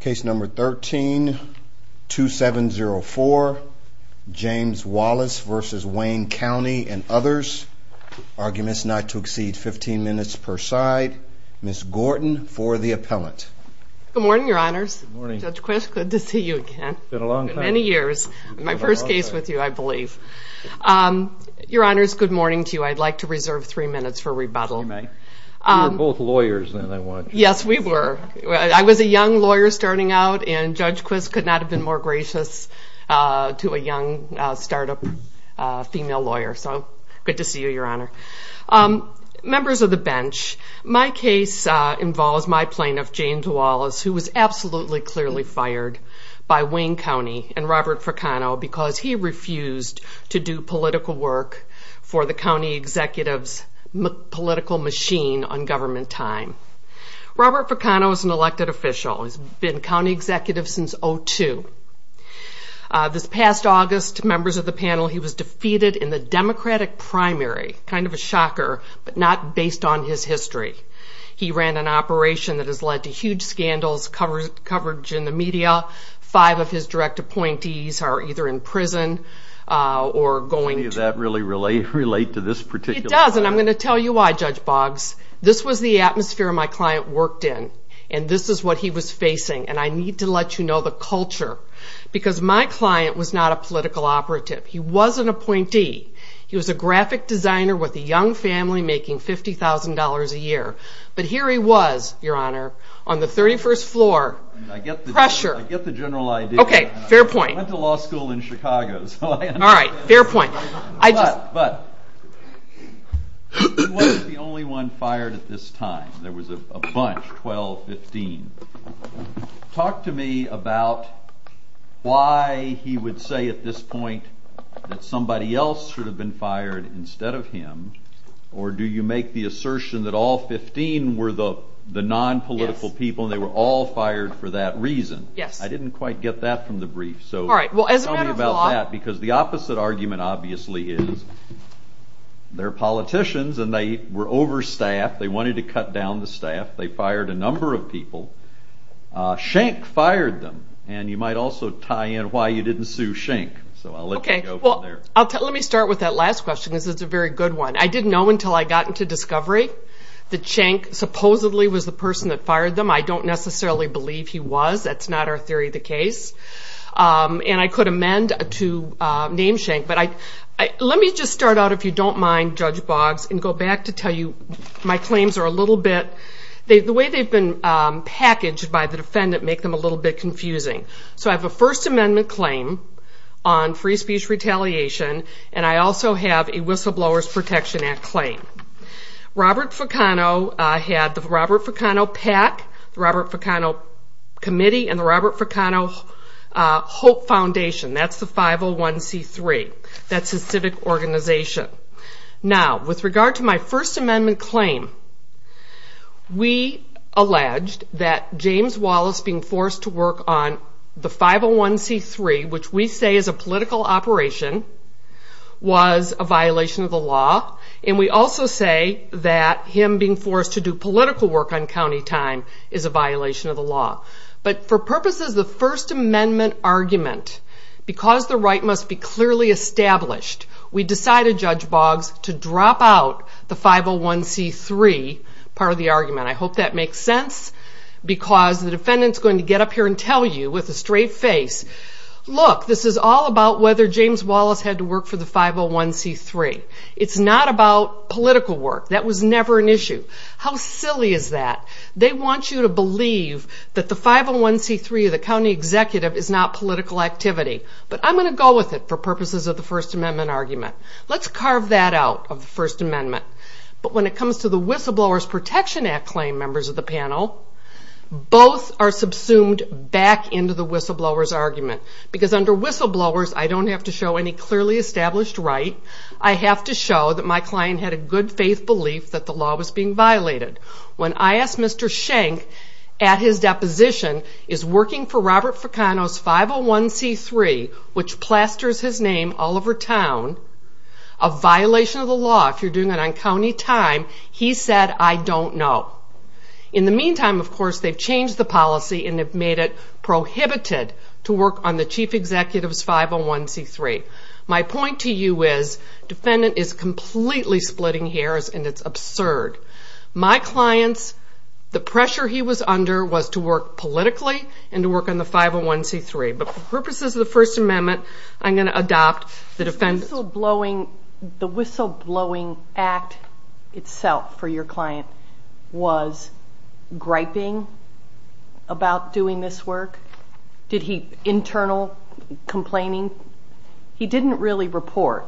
Case number 13-2704, James Wallace versus Wayne County and others. Arguments not to exceed 15 minutes per side. Ms. Gorton for the appellant. Good morning, your honors. Judge Quist, good to see you again. It's been a long time. Many years. My first case with you, I believe. Your honors, good morning to you. I'd like to reserve three minutes for rebuttal. You were both lawyers. Yes, we were. I was a young lawyer starting out and Judge Quist could not have been more gracious to a young startup female lawyer. So good to see you, your honor. Members of the bench, my case involves my plaintiff, James Wallace, who was absolutely clearly fired by Wayne County and Robert Fracano because he refused to do political work for the county executive's political machine on government time. Robert Fracano is an elected official. He's been county executive since 2002. This past August, members of the panel, he was defeated in the Democratic primary. Kind of a shocker, but not based on his history. He ran an operation that has led to huge scandals, coverage in the media. Five of his direct appointees are either in this room or in the audience. I'm going to tell you why, Judge Boggs. This was the atmosphere my client worked in and this is what he was facing. I need to let you know the culture because my client was not a political operative. He was an appointee. He was a graphic designer with a young family making $50,000 a year. Here he was, your honor, on the 31st floor. I get the general idea. Fair point. I went to law school in Chicago. Fair point. He wasn't the only one fired at this time. There was a bunch, 12, 15. Talk to me about why he would say at this point that somebody else should have been fired instead of him, or do you make the assertion that all 15 were the non-political people and they were all fired for that reason? I didn't quite get that from the brief. Tell me about that because the opposite argument obviously is they're politicians and they were overstaffed. They wanted to cut down the staff. They fired a number of people. Schenck fired them. You might also tie in why you didn't sue Schenck. Let me start with that last question because it's a very good one. I didn't know until I got into discovery that Schenck supposedly was the person that fired them. I don't necessarily believe he was. That's not our theory of the case. I could amend to name Schenck. Let me just start out, if you don't mind, Judge Boggs, and go back to tell you my claims are a little bit... The way they've been packaged by the defendant make them a little bit confusing. I have a First Amendment claim on free speech retaliation and I also have a Whistleblowers Protection Act claim. Robert Fucano had the Robert Fucano PAC, the Robert Fucano Committee, and the Robert Fucano Hope Foundation. That's the 501C3. That's his civic organization. Now, with regard to my First Amendment claim, we alleged that James Wallace being forced to work on the 501C3, which we say is a political operation, was a violation of the law. We also say that him being forced to do political work on county time is a violation of the law. But for purposes of the First Amendment argument, because the right must be clearly established, we decided, Judge Boggs, to drop out the 501C3 part of the argument. I hope that makes sense because the defendant is going to get up here and tell you with a straight face, Look, this is all about whether James Wallace had to work for the 501C3. It's not about political work. That was never an issue. How silly is that? They want you to believe that the 501C3 of the county executive is not political activity. But I'm going to go with it for purposes of the First Amendment argument. Let's carve that out of the First Amendment. But when it comes to the Whistleblowers Protection Act claim, members of the panel, both are subsumed back into the whistleblowers argument. Because under whistleblowers, I don't have to show any clearly established right. I have to show that my client had a good faith belief that the law was being violated. When I asked Mr. Schenck at his deposition, is working for Robert Fracano's 501C3, which plasters his name all over town, a violation of the law? If you're doing it on county time, he said, I don't know. In the meantime, of course, they've changed the policy and have made it prohibited to work on the chief executive's 501C3. My point to you is, defendant is completely splitting hairs and it's absurd. My client's, the pressure he was under was to work politically and to work on the 501C3. But for purposes of the First Amendment, I'm going to adopt the defendant's... The whistleblowing act itself for your client was griping about doing this work? Did he, internal complaining? He didn't really report.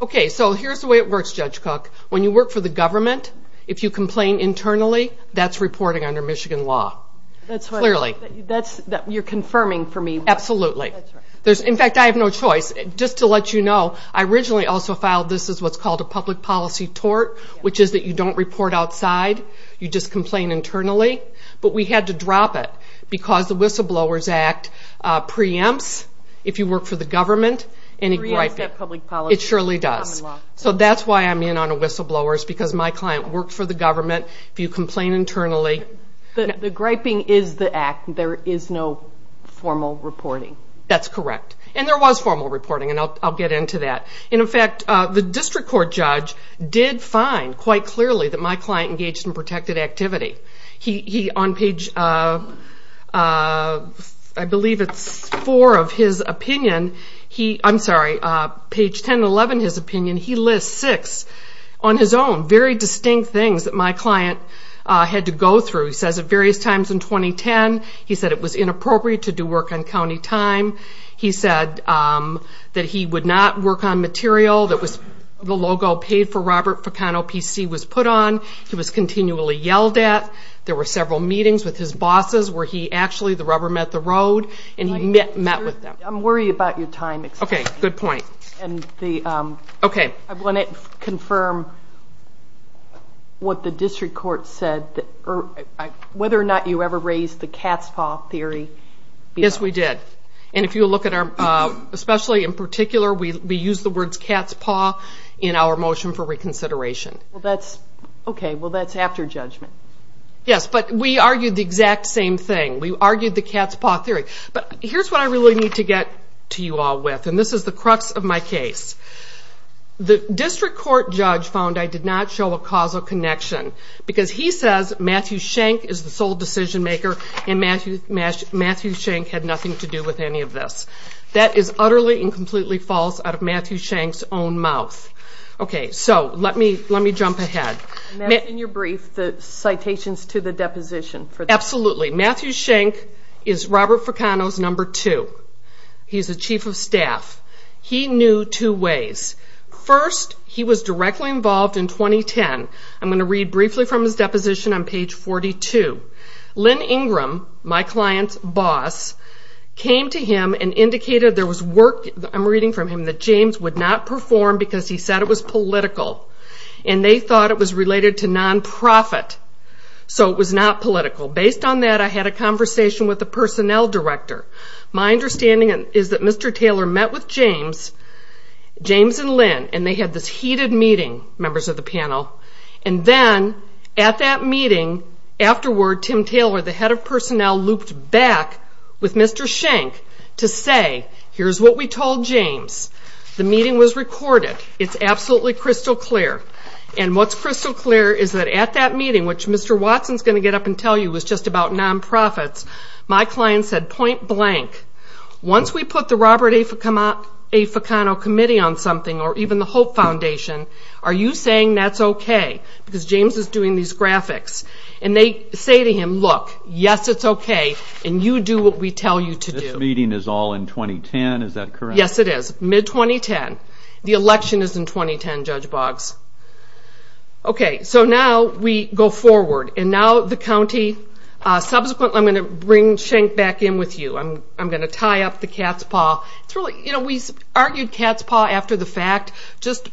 Okay, so here's the way it works, Judge Cook. When you work for the government, if you complain internally, that's reporting under Michigan law. Clearly. You're confirming for me. Absolutely. In fact, I have no choice. Just to let you know, I originally also filed this as what's called a public policy tort, which is that you don't report outside, you just complain internally. But we had to drop it because the whistleblowers act preempts if you work for the government. It surely does. So that's why I'm in on the whistleblowers, because my client worked for the government. If you complain internally... The griping is the act. There is no formal reporting. That's correct. And there was formal reporting, and I'll get into that. In fact, the district court judge did find, quite clearly, that my client engaged in protected activity. He, on page... I believe it's four of his opinion... I'm sorry, page 10 and 11 of his opinion, he lists six, on his own, very distinct things that my client had to go through. He says at various times in 2010, he said it was inappropriate to do work on county time. He said that he would not work on material that was... the logo paid for Robert Peccano PC was put on. He was continually yelled at. There were several meetings with his bosses where he actually, the rubber met the road, and he met with them. I'm worried about your time. Okay, good point. I want to confirm what the district court said, whether or not you ever raised the cat's paw theory. Yes, we did. And if you look at our... especially in particular, we use the words cat's paw in our motion for reconsideration. Okay, well that's after judgment. Yes, but we argued the exact same thing. We argued the cat's paw theory. But here's what I really need to get to you all with, and this is the crux of my case. The district court judge found I did not show a causal connection, because he says Matthew Schenck is the sole decision maker, and Matthew Schenck had nothing to do with any of this. That is utterly and completely false out of Matthew Schenck's own mouth. Okay, so let me jump ahead. And that's in your brief, the citations to the deposition. Absolutely. Matthew Schenck is Robert Peccano's number two. He's the chief of staff. He knew two ways. First, he was directly involved in 2010. I'm going to read briefly from his deposition on page 42. Lynn Ingram, my client's boss, came to him and indicated there was work... I'm reading from him that James would not perform because he said it was political. And they thought it was related to non-profit, so it was not political. Based on that, I had a conversation with the personnel director. My understanding is that Mr. Taylor met with James, James and Lynn, and they had this heated meeting, members of the panel. And then, at that meeting, afterward, Tim Taylor, the head of personnel, looped back with Mr. Schenck to say, here's what we told James. The meeting was recorded. It's absolutely crystal clear. And what's crystal clear is that at that meeting, which Mr. Watson's going to get up and tell you was just about non-profits, my client said point blank, once we put the Robert A. Peccano committee on something, or even the Hope Foundation, are you saying that's okay? Because James is doing these graphics. And they say to him, look, yes it's okay, and you do what we tell you to do. This meeting is all in 2010, is that correct? Yes, it is. Mid-2010. The election is in 2010, Judge Boggs. Okay, so now we go forward. And now the county, subsequently I'm going to bring Schenck back in with you. I'm going to tie up the cat's paw. We argued cat's paw after the fact. Just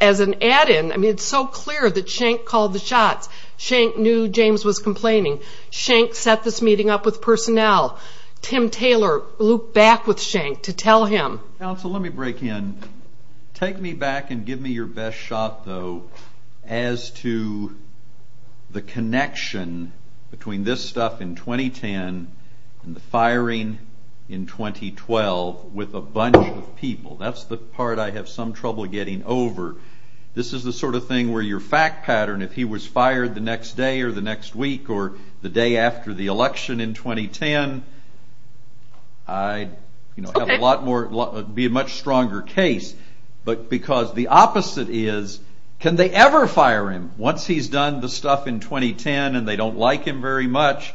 as an add-in, it's so clear that Schenck called the shots. Schenck knew James was complaining. Schenck set this meeting up with personnel. Tim Taylor looped back with Schenck to tell him. Counsel, let me break in. Take me back and give me your best shot, though, as to the connection between this stuff in 2010 and the firing in 2012 with a bunch of people. That's the part I have some trouble getting over. This is the sort of thing where your fact pattern, if he was fired the next day or the next week or the day after the election in 2010, I'd be a much stronger case. But because the opposite is, can they ever fire him once he's done the stuff in 2010 and they don't like him very much?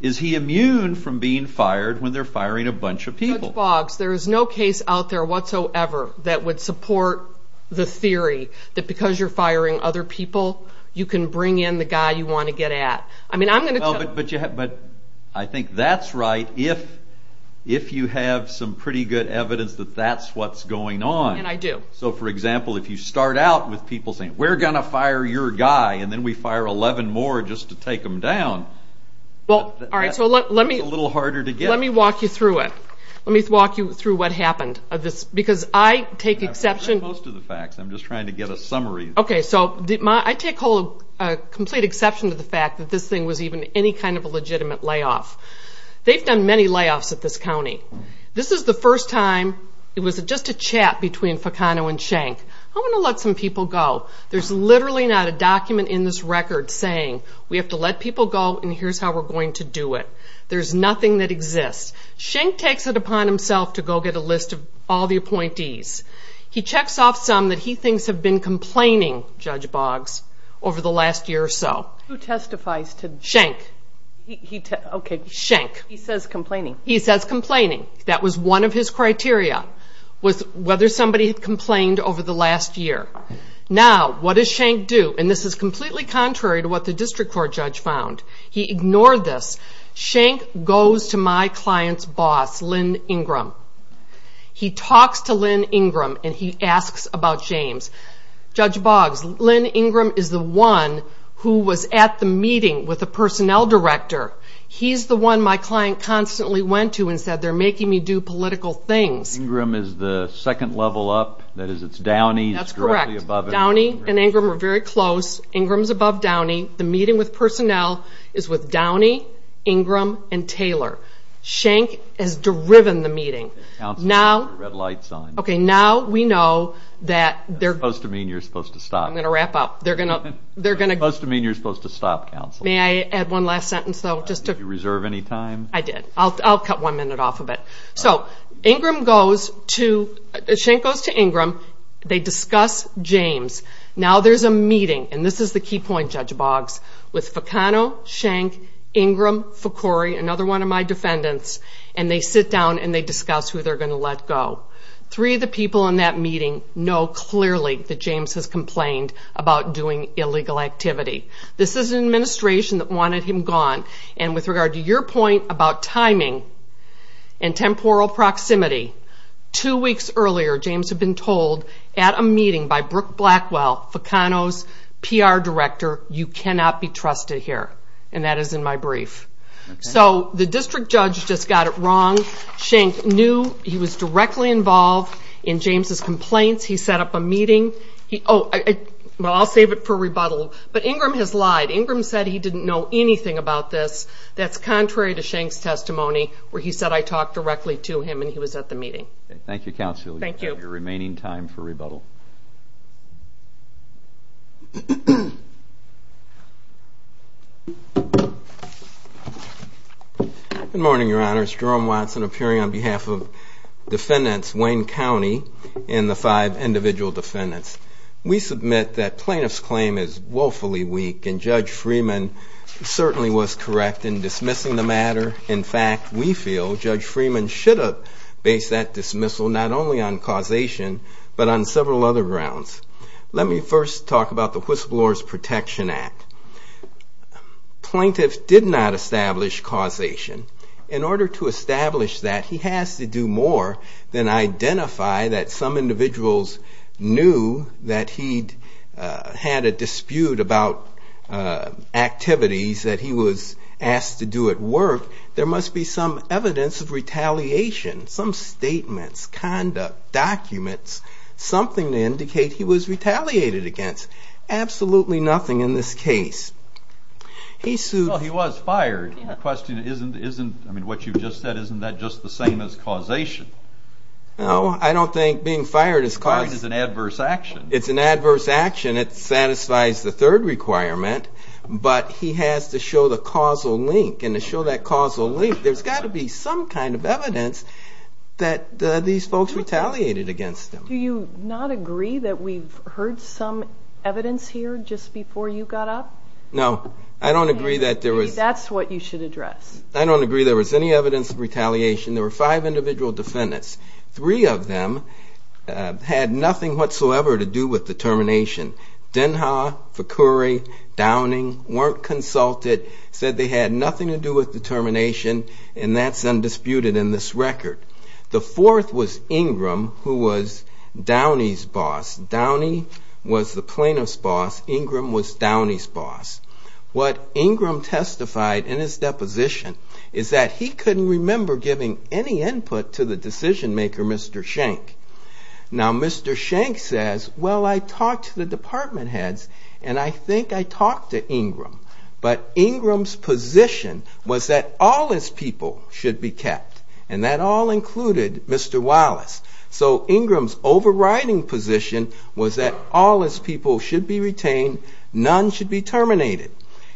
Is he immune from being fired when they're firing a bunch of people? Judge Boggs, there is no case out there whatsoever that would support the theory that because you're firing other people, you can bring in the guy you want to get at. I think that's right if you have some pretty good evidence that that's what's going on. And I do. So, for example, if you start out with people saying, we're going to fire your guy and then we fire 11 more just to take them down, that's a little harder to get. Let me walk you through it. Let me walk you through what happened. I've heard most of the facts. I'm just trying to get a summary. Okay, so I take a complete exception to the fact that this thing was even any kind of a legitimate layoff. They've done many layoffs at this county. This is the first time it was just a chat between Fecano and Schenck. I want to let some people go. There's literally not a document in this record saying we have to let people go and here's how we're going to do it. There's nothing that exists. Schenck takes it upon himself to go get a list of all the appointees. He checks off some that he thinks have been complaining, Judge Boggs, over the last year or so. Who testifies to this? Schenck. Okay. Schenck. He says complaining. He says complaining. That was one of his criteria was whether somebody complained over the last year. Now, what does Schenck do? And this is completely contrary to what the district court judge found. He ignored this. Schenck goes to my client's boss, Lynn Ingram. He talks to Lynn Ingram and he asks about James. Judge Boggs, Lynn Ingram is the one who was at the meeting with the personnel director. He's the one my client constantly went to and said, they're making me do political things. Ingram is the second level up. That is, it's Downey. That's correct. Downey and Ingram are very close. Ingram's above Downey. The meeting with personnel is with Downey, Ingram, and Taylor. Schenck has driven the meeting. Okay, now we know that they're going to. Supposed to mean you're supposed to stop. I'm going to wrap up. They're going to. Supposed to mean you're supposed to stop, counsel. May I add one last sentence, though, just to. Did you reserve any time? I did. I'll cut one minute off of it. So, Ingram goes to, Schenck goes to Ingram. They discuss James. Now there's a meeting, and this is the key point, Judge Boggs, with Fecano, Schenck, Ingram, Ficore, another one of my defendants, and they sit down and they discuss who they're going to let go. Three of the people in that meeting know clearly that James has complained about doing illegal activity. This is an administration that wanted him gone, and with regard to your point about timing and temporal proximity, two weeks earlier James had been told at a meeting by Brooke Blackwell, Fecano's PR director, you cannot be trusted here, and that is in my brief. So the district judge just got it wrong. Schenck knew he was directly involved in James' complaints. He set up a meeting. Well, I'll save it for rebuttal, but Ingram has lied. Ingram said he didn't know anything about this. That's contrary to Schenck's testimony where he said I talked directly to him and he was at the meeting. Thank you, counsel. You have your remaining time for rebuttal. Good morning, Your Honors. Jerome Watson appearing on behalf of defendants, Wayne County and the five individual defendants. We submit that plaintiff's claim is woefully weak, and Judge Freeman certainly was correct in dismissing the matter. In fact, we feel Judge Freeman should have based that dismissal not only on causation but on several other grounds. Let me first talk about the Whistleblower's Protection Act. Plaintiff did not establish causation. In order to establish that, he has to do more than identify that some individuals knew that he had a dispute about activities that he was asked to do at work. There must be some evidence of retaliation, some statements, conduct, documents, something to indicate he was retaliated against. Absolutely nothing in this case. Well, he was fired. The question isn't what you just said, isn't that just the same as causation? No, I don't think being fired is causation. It's an adverse action. It's an adverse action. It satisfies the third requirement, but he has to show the causal link and to show that causal link, there's got to be some kind of evidence that these folks retaliated against him. Do you not agree that we've heard some evidence here just before you got up? No, I don't agree that there was. Maybe that's what you should address. I don't agree there was any evidence of retaliation. There were five individual defendants. Three of them had nothing whatsoever to do with the termination. Denha, Fakuri, Downing weren't consulted, said they had nothing to do with the termination, and that's undisputed in this record. The fourth was Ingram, who was Downey's boss. Downey was the plaintiff's boss. Ingram was Downey's boss. What Ingram testified in his deposition is that he couldn't remember giving any input to the decision-maker, Mr. Schenck. Now, Mr. Schenck says, well, I talked to the department heads, and I think I talked to Ingram, but Ingram's position was that all his people should be kept, and that all included Mr. Wallace. So Ingram's overriding position was that all his people should be retained, none should be terminated.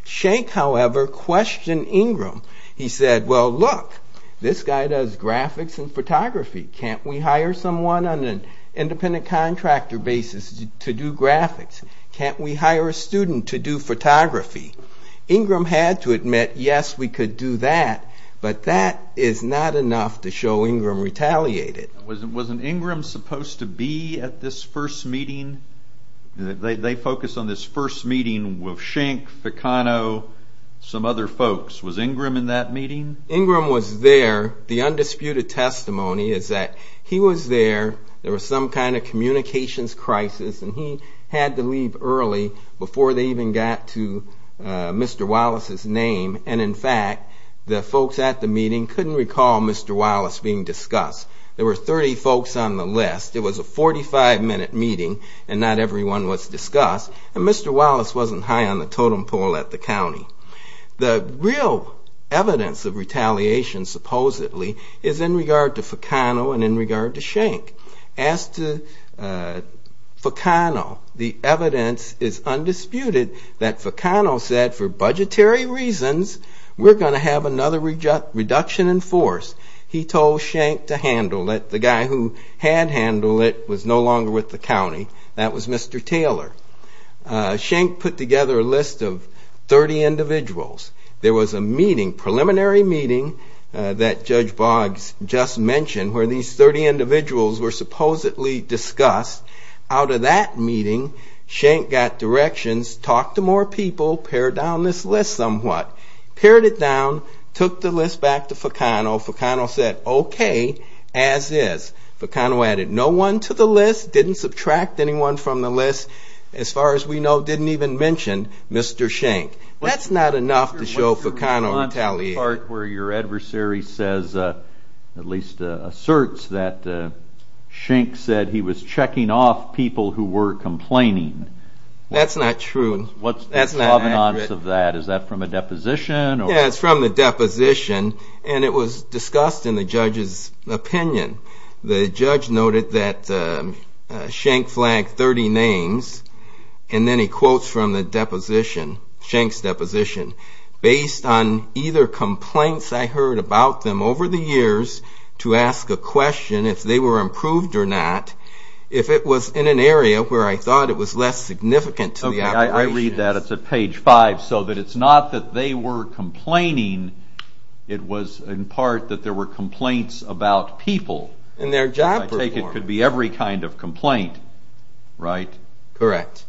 Schenck, however, questioned Ingram. He said, well, look, this guy does graphics and photography. Can't we hire someone on an independent contractor basis to do graphics? Can't we hire a student to do photography? Ingram had to admit, yes, we could do that, but that is not enough to show Ingram retaliated. Wasn't Ingram supposed to be at this first meeting? They focused on this first meeting with Schenck, Ficano, some other folks. Was Ingram in that meeting? Ingram was there. The undisputed testimony is that he was there. There was some kind of communications crisis, and he had to leave early before they even got to Mr. Wallace's name. And, in fact, the folks at the meeting couldn't recall Mr. Wallace being discussed. There were 30 folks on the list. It was a 45-minute meeting, and not everyone was discussed. And Mr. Wallace wasn't high on the totem pole at the county. The real evidence of retaliation, supposedly, is in regard to Ficano and in regard to Schenck. As to Ficano, the evidence is undisputed that Ficano said, for budgetary reasons, we're going to have another reduction in force. He told Schenck to handle it. The guy who had handled it was no longer with the county. That was Mr. Taylor. Schenck put together a list of 30 individuals. There was a meeting, preliminary meeting, that Judge Boggs just mentioned, where these 30 individuals were supposedly discussed. Out of that meeting, Schenck got directions, talked to more people, pared down this list somewhat, pared it down, took the list back to Ficano. Ficano said, okay, as is. Ficano added no one to the list, didn't subtract anyone from the list. As far as we know, didn't even mention Mr. Schenck. That's not enough to show Ficano retaliated. The part where your adversary says, at least asserts, that Schenck said he was checking off people who were complaining. That's not true. What's the provenance of that? Is that from a deposition? Yeah, it's from the deposition, and it was discussed in the judge's opinion. The judge noted that Schenck flagged 30 names, and then he quotes from the deposition, Schenck's deposition, based on either complaints I heard about them over the years to ask a question if they were improved or not, if it was in an area where I thought it was less significant to the operation. Okay, I read that. That's at page 5, so that it's not that they were complaining, it was in part that there were complaints about people. And their job performance. I take it could be every kind of complaint, right? Correct.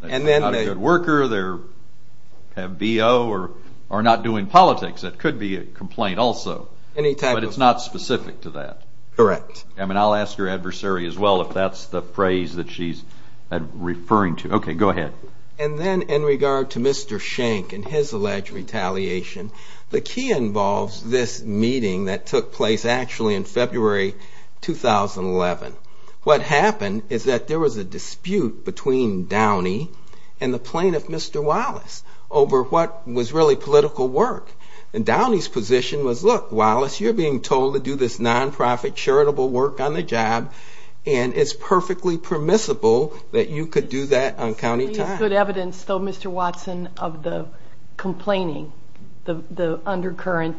They're not a good worker, they have BO, or are not doing politics. That could be a complaint also. Any type of complaint. But it's not specific to that. Correct. I mean, I'll ask your adversary as well if that's the phrase that she's referring to. Okay, go ahead. And then in regard to Mr. Schenck and his alleged retaliation, the key involves this meeting that took place actually in February 2011. What happened is that there was a dispute between Downey and the plaintiff, Mr. Wallace, over what was really political work. And Downey's position was, look, Wallace, you're being told to do this nonprofit charitable work on the job, and it's perfectly permissible that you could do that on county time. There's good evidence, though, Mr. Watson, of the complaining, the undercurrent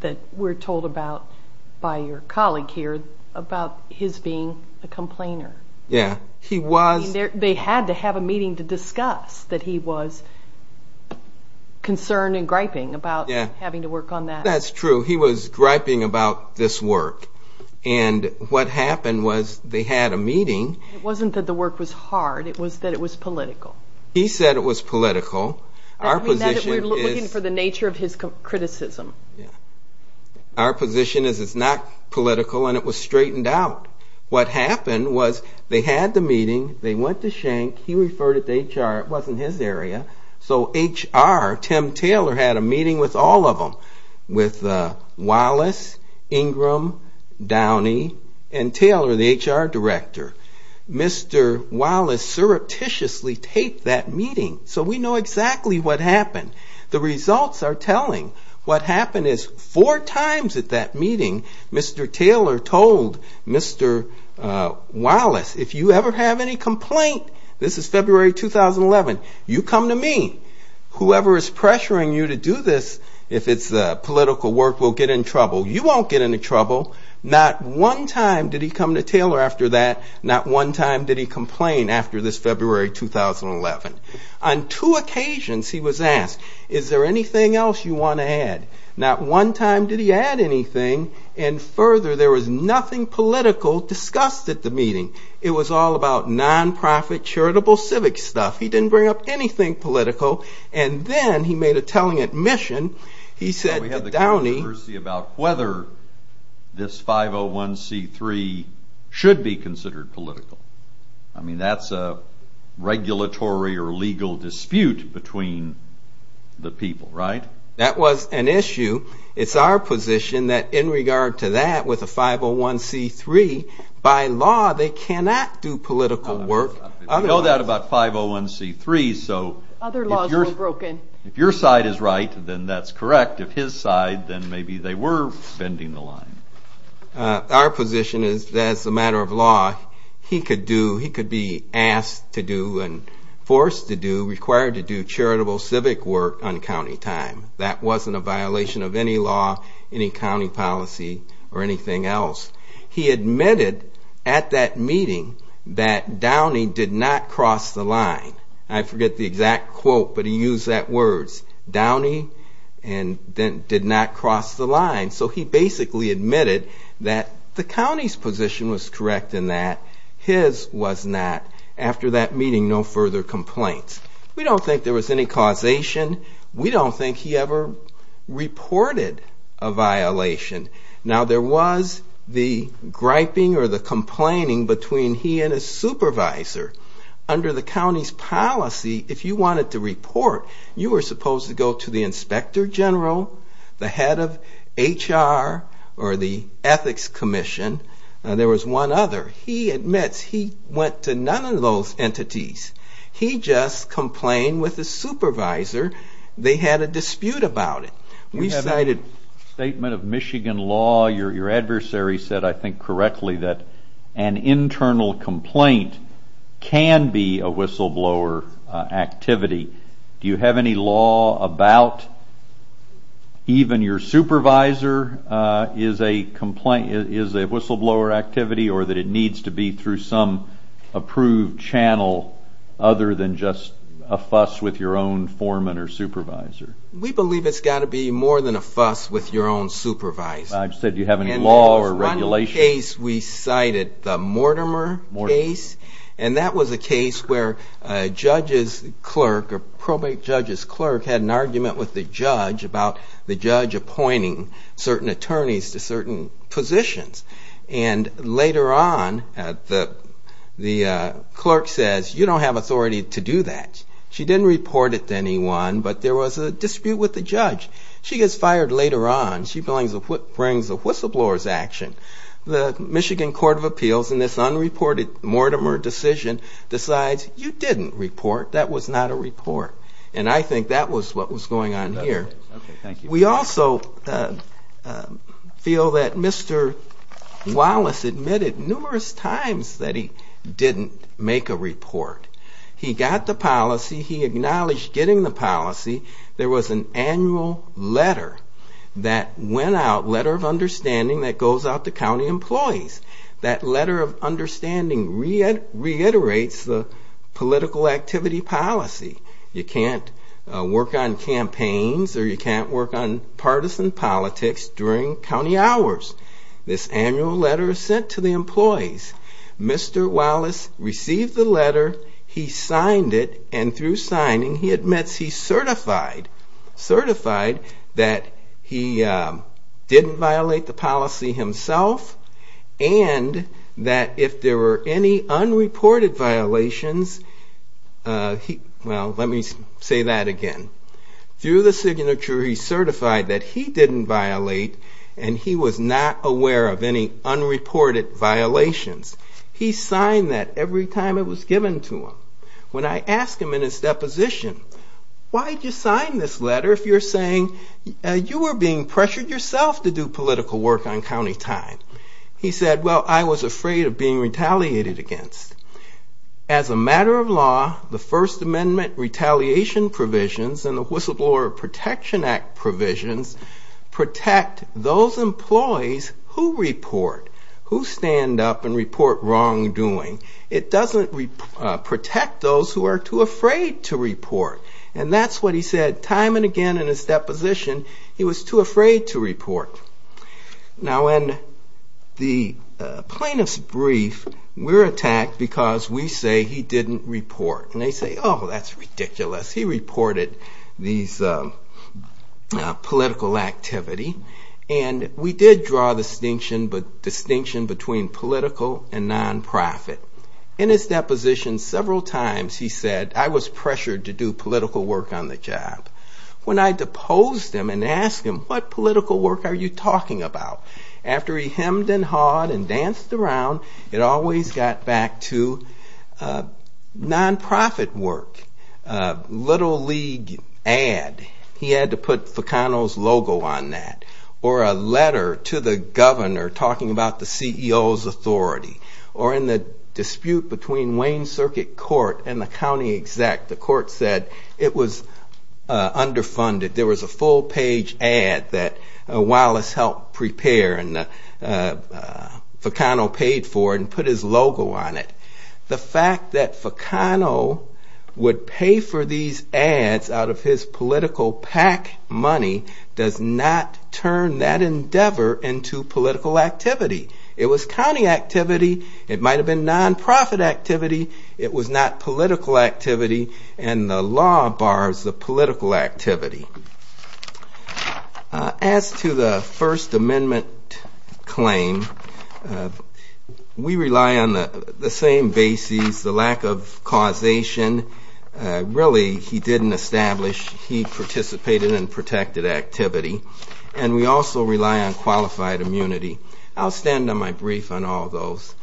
that we're told about by your colleague here about his being a complainer. Yeah, he was. They had to have a meeting to discuss that he was concerned and griping about having to work on that. That's true. He was griping about this work. And what happened was they had a meeting. It wasn't that the work was hard. It was that it was political. He said it was political. That would mean that we're looking for the nature of his criticism. Yeah. Our position is it's not political, and it was straightened out. What happened was they had the meeting. They went to Schenck. He referred it to HR. It wasn't his area. So HR, Tim Taylor, had a meeting with all of them, with Wallace, Ingram, Downey, and Taylor, the HR director. Mr. Wallace surreptitiously taped that meeting, so we know exactly what happened. The results are telling. What happened is four times at that meeting, Mr. Taylor told Mr. Wallace, if you ever have any complaint, this is February 2011, you come to me. Whoever is pressuring you to do this, if it's political work, will get in trouble. You won't get into trouble. Not one time did he come to Taylor after that. Not one time did he complain after this February 2011. On two occasions he was asked, is there anything else you want to add? Not one time did he add anything. Further, there was nothing political discussed at the meeting. It was all about non-profit charitable civic stuff. He didn't bring up anything political. Then he made a telling admission. He said to Downey... We have the controversy about whether this 501c3 should be considered political. That's a regulatory or legal dispute between the people, right? That was an issue. It's our position that in regard to that with a 501c3, by law they cannot do political work. We know that about 501c3s. Other laws were broken. If your side is right, then that's correct. If his side, then maybe they were bending the line. Our position is as a matter of law, he could be asked to do and forced to do, required to do charitable civic work on county time. That wasn't a violation of any law, any county policy, or anything else. He admitted at that meeting that Downey did not cross the line. I forget the exact quote, but he used that word. Downey did not cross the line. So he basically admitted that the county's position was correct in that. His was not. After that meeting, no further complaints. We don't think there was any causation. We don't think he ever reported a violation. Now, there was the griping or the complaining between he and his supervisor. Under the county's policy, if you wanted to report, you were supposed to go to the inspector general, the head of HR, or the ethics commission. There was one other. He admits he went to none of those entities. He just complained with his supervisor. They had a dispute about it. We have a statement of Michigan law. Your adversary said, I think correctly, that an internal complaint can be a whistleblower activity. Do you have any law about even your supervisor is a whistleblower activity or that it needs to be through some approved channel other than just a fuss with your own foreman or supervisor? We believe it's got to be more than a fuss with your own supervisor. I said, do you have any law or regulation? There was one case we cited, the Mortimer case. That was a case where a probate judge's clerk had an argument with the judge about the judge appointing certain attorneys to certain positions. And later on, the clerk says, you don't have authority to do that. She didn't report it to anyone, but there was a dispute with the judge. She gets fired later on. She brings a whistleblower's action. The Michigan Court of Appeals in this unreported Mortimer decision decides, you didn't report. That was not a report. And I think that was what was going on here. We also feel that Mr. Wallace admitted numerous times that he didn't make a report. He got the policy. He acknowledged getting the policy. There was an annual letter that went out, letter of understanding that goes out to county employees. That letter of understanding reiterates the political activity policy. You can't work on campaigns or you can't work on partisan politics during county hours. This annual letter is sent to the employees. Mr. Wallace received the letter. He signed it, and through signing, he admits he's certified, certified that he didn't violate the policy himself and that if there were any unreported violations, well, let me say that again. Through the signature, he's certified that he didn't violate and he was not aware of any unreported violations. He signed that every time it was given to him. When I asked him in his deposition, why did you sign this letter if you're saying you were being pressured yourself to do political work on county time? He said, well, I was afraid of being retaliated against. As a matter of law, the First Amendment retaliation provisions and the Whistleblower Protection Act provisions protect those employees who report, who stand up and report wrongdoing. And that's what he said time and again in his deposition. He was too afraid to report. Now, in the plaintiff's brief, we're attacked because we say he didn't report. And they say, oh, that's ridiculous. He reported these political activity. And we did draw a distinction between political and nonprofit. In his deposition, several times he said, I was pressured to do political work on the job. When I deposed him and asked him, what political work are you talking about? After he hemmed and hawed and danced around, it always got back to nonprofit work, Little League ad. He had to put Fecano's logo on that. Or a letter to the governor talking about the CEO's authority. Or in the dispute between Wayne Circuit Court and the county exec, the court said it was underfunded. There was a full-page ad that Wallace helped prepare and Fecano paid for and put his logo on it. The fact that Fecano would pay for these ads out of his political PAC money does not turn that endeavor into political activity. It was county activity. It might have been nonprofit activity. It was not political activity. And the law bars the political activity. As to the First Amendment claim, we rely on the same basis, the lack of causation. Really, he didn't establish. He participated in protected activity. And we also rely on qualified immunity. I'll stand on my brief on all those.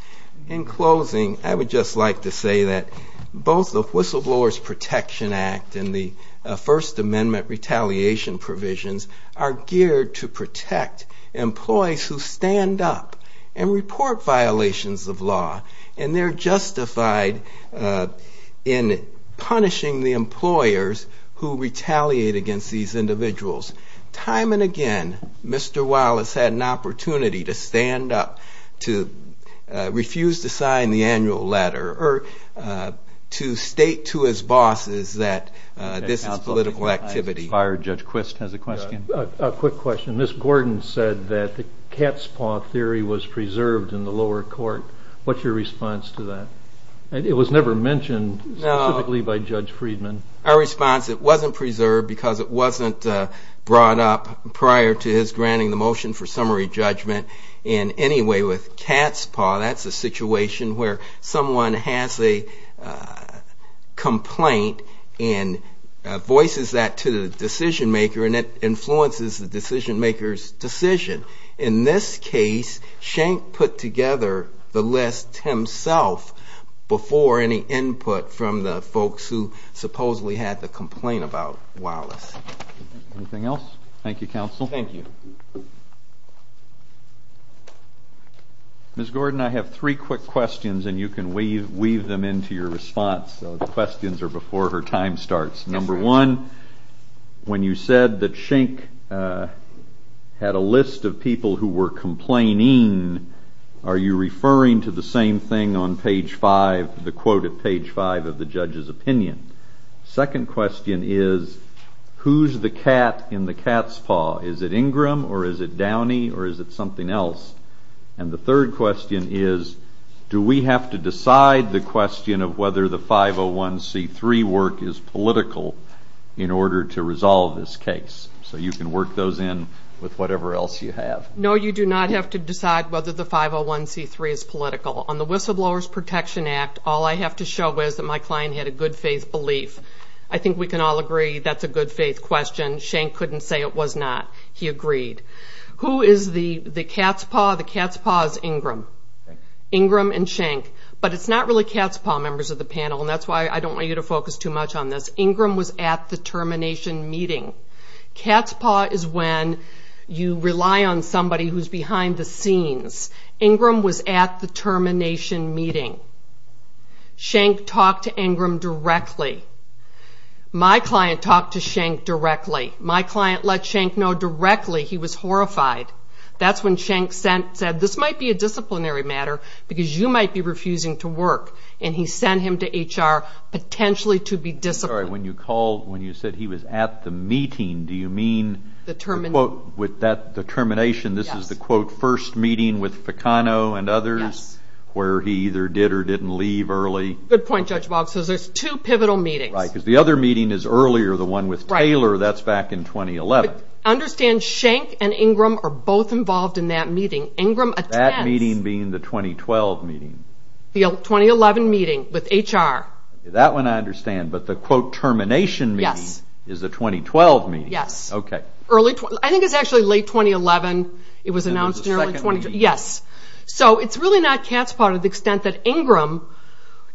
In closing, I would just like to say that both the Whistleblower's Protection Act and the First Amendment retaliation provisions are geared to protect employees who stand up and report violations of law. And they're justified in punishing the employers who retaliate against these individuals. Time and again, Mr. Wallace had an opportunity to stand up, to refuse to sign the annual letter, or to state to his bosses that this is political activity. Judge Quist has a question. A quick question. Ms. Gordon said that the cat's paw theory was preserved in the lower court. What's your response to that? It was never mentioned specifically by Judge Friedman. Our response is it wasn't preserved because it wasn't brought up prior to his granting the motion for summary judgment. And anyway, with cat's paw, that's a situation where someone has a complaint and voices that to the decision-maker, and it influences the decision-maker's decision. In this case, Schenck put together the list himself before any input from the folks who supposedly had the complaint about Wallace. Anything else? Thank you, counsel. Thank you. Ms. Gordon, I have three quick questions, and you can weave them into your response. The questions are before her time starts. Number one, when you said that Schenck had a list of people who were complaining, are you referring to the same thing on page five, the quote at page five of the judge's opinion? Second question is, who's the cat in the cat's paw? Is it Ingram, or is it Downey, or is it something else? And the third question is, do we have to decide the question of whether the 501c3 work is political in order to resolve this case? So you can work those in with whatever else you have. No, you do not have to decide whether the 501c3 is political. On the Whistleblowers Protection Act, all I have to show is that my client had a good-faith belief. I think we can all agree that's a good-faith question. Schenck couldn't say it was not. He agreed. Who is the cat's paw? The cat's paw is Ingram. Ingram and Schenck. But it's not really cat's paw, members of the panel, and that's why I don't want you to focus too much on this. Ingram was at the termination meeting. Cat's paw is when you rely on somebody who's behind the scenes. Ingram was at the termination meeting. Schenck talked to Ingram directly. My client talked to Schenck directly. My client let Schenck know directly he was horrified. That's when Schenck said, this might be a disciplinary matter because you might be refusing to work. And he sent him to HR potentially to be disciplined. I'm sorry, when you said he was at the meeting, do you mean with the termination, this is the first meeting with Ficano and others where he either did or didn't leave early? Good point, Judge Boggs. So there's two pivotal meetings. Right, because the other meeting is earlier, the one with Taylor. That's back in 2011. Understand Schenck and Ingram are both involved in that meeting. Ingram attends. That meeting being the 2012 meeting. The 2011 meeting with HR. That one I understand. But the quote termination meeting is the 2012 meeting. Yes. Okay. I think it's actually late 2011. It was announced in early 2012. Yes. So it's really not cat's paw to the extent that Ingram,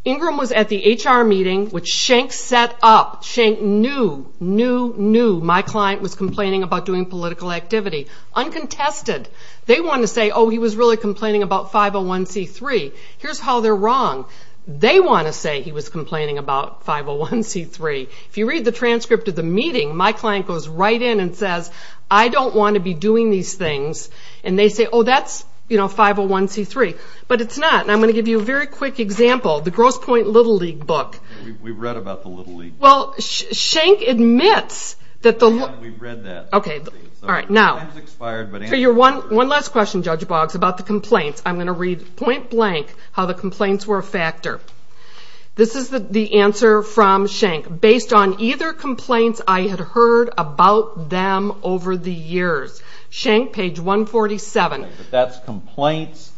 Ingram was at the HR meeting, which Schenck set up. Schenck knew, knew, knew my client was complaining about doing political activity. Uncontested. They wanted to say, oh, he was really complaining about 501c3. Here's how they're wrong. They want to say he was complaining about 501c3. If you read the transcript of the meeting, my client goes right in and says, I don't want to be doing these things. And they say, oh, that's 501c3. But it's not. And I'm going to give you a very quick example. The Grosse Pointe Little League book. We've read about the Little League. Well, Schenck admits that the... We've read that. Okay. Time's expired, but... One last question, Judge Boggs, about the complaints. I'm going to read point blank how the complaints were a factor. This is the answer from Schenck. Based on either complaints, I had heard about them over the years. Schenck, page 147. That's complaints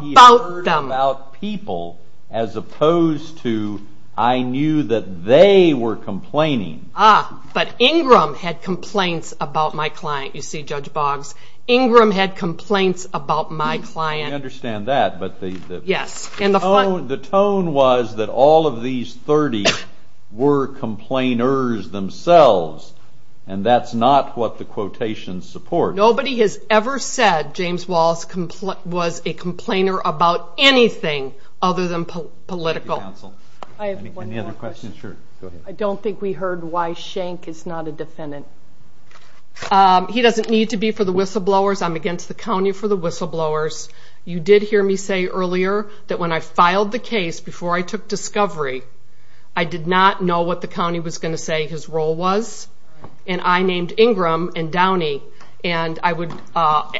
he heard about people, as opposed to I knew that they were complaining. Ah, but Ingram had complaints about my client, you see, Judge Boggs. Ingram had complaints about my client. I understand that, but the tone was that all of these 30 were complainers themselves, and that's not what the quotations support. Nobody has ever said James Wallace was a complainer about anything other than political. Any other questions? I don't think we heard why Schenck is not a defendant. He doesn't need to be for the whistleblowers. I'm against the county for the whistleblowers. You did hear me say earlier that when I filed the case, before I took discovery, I did not know what the county was going to say his role was, and I named Ingram and Downey, and I would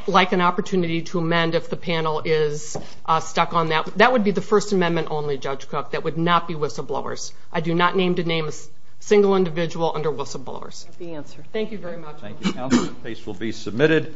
like an opportunity to amend if the panel is stuck on that. That would be the First Amendment only, Judge Cook. That would not be whistleblowers. I do not name a single individual under whistleblowers. That's the answer. Thank you very much. Thank you, counsel. The case will be submitted.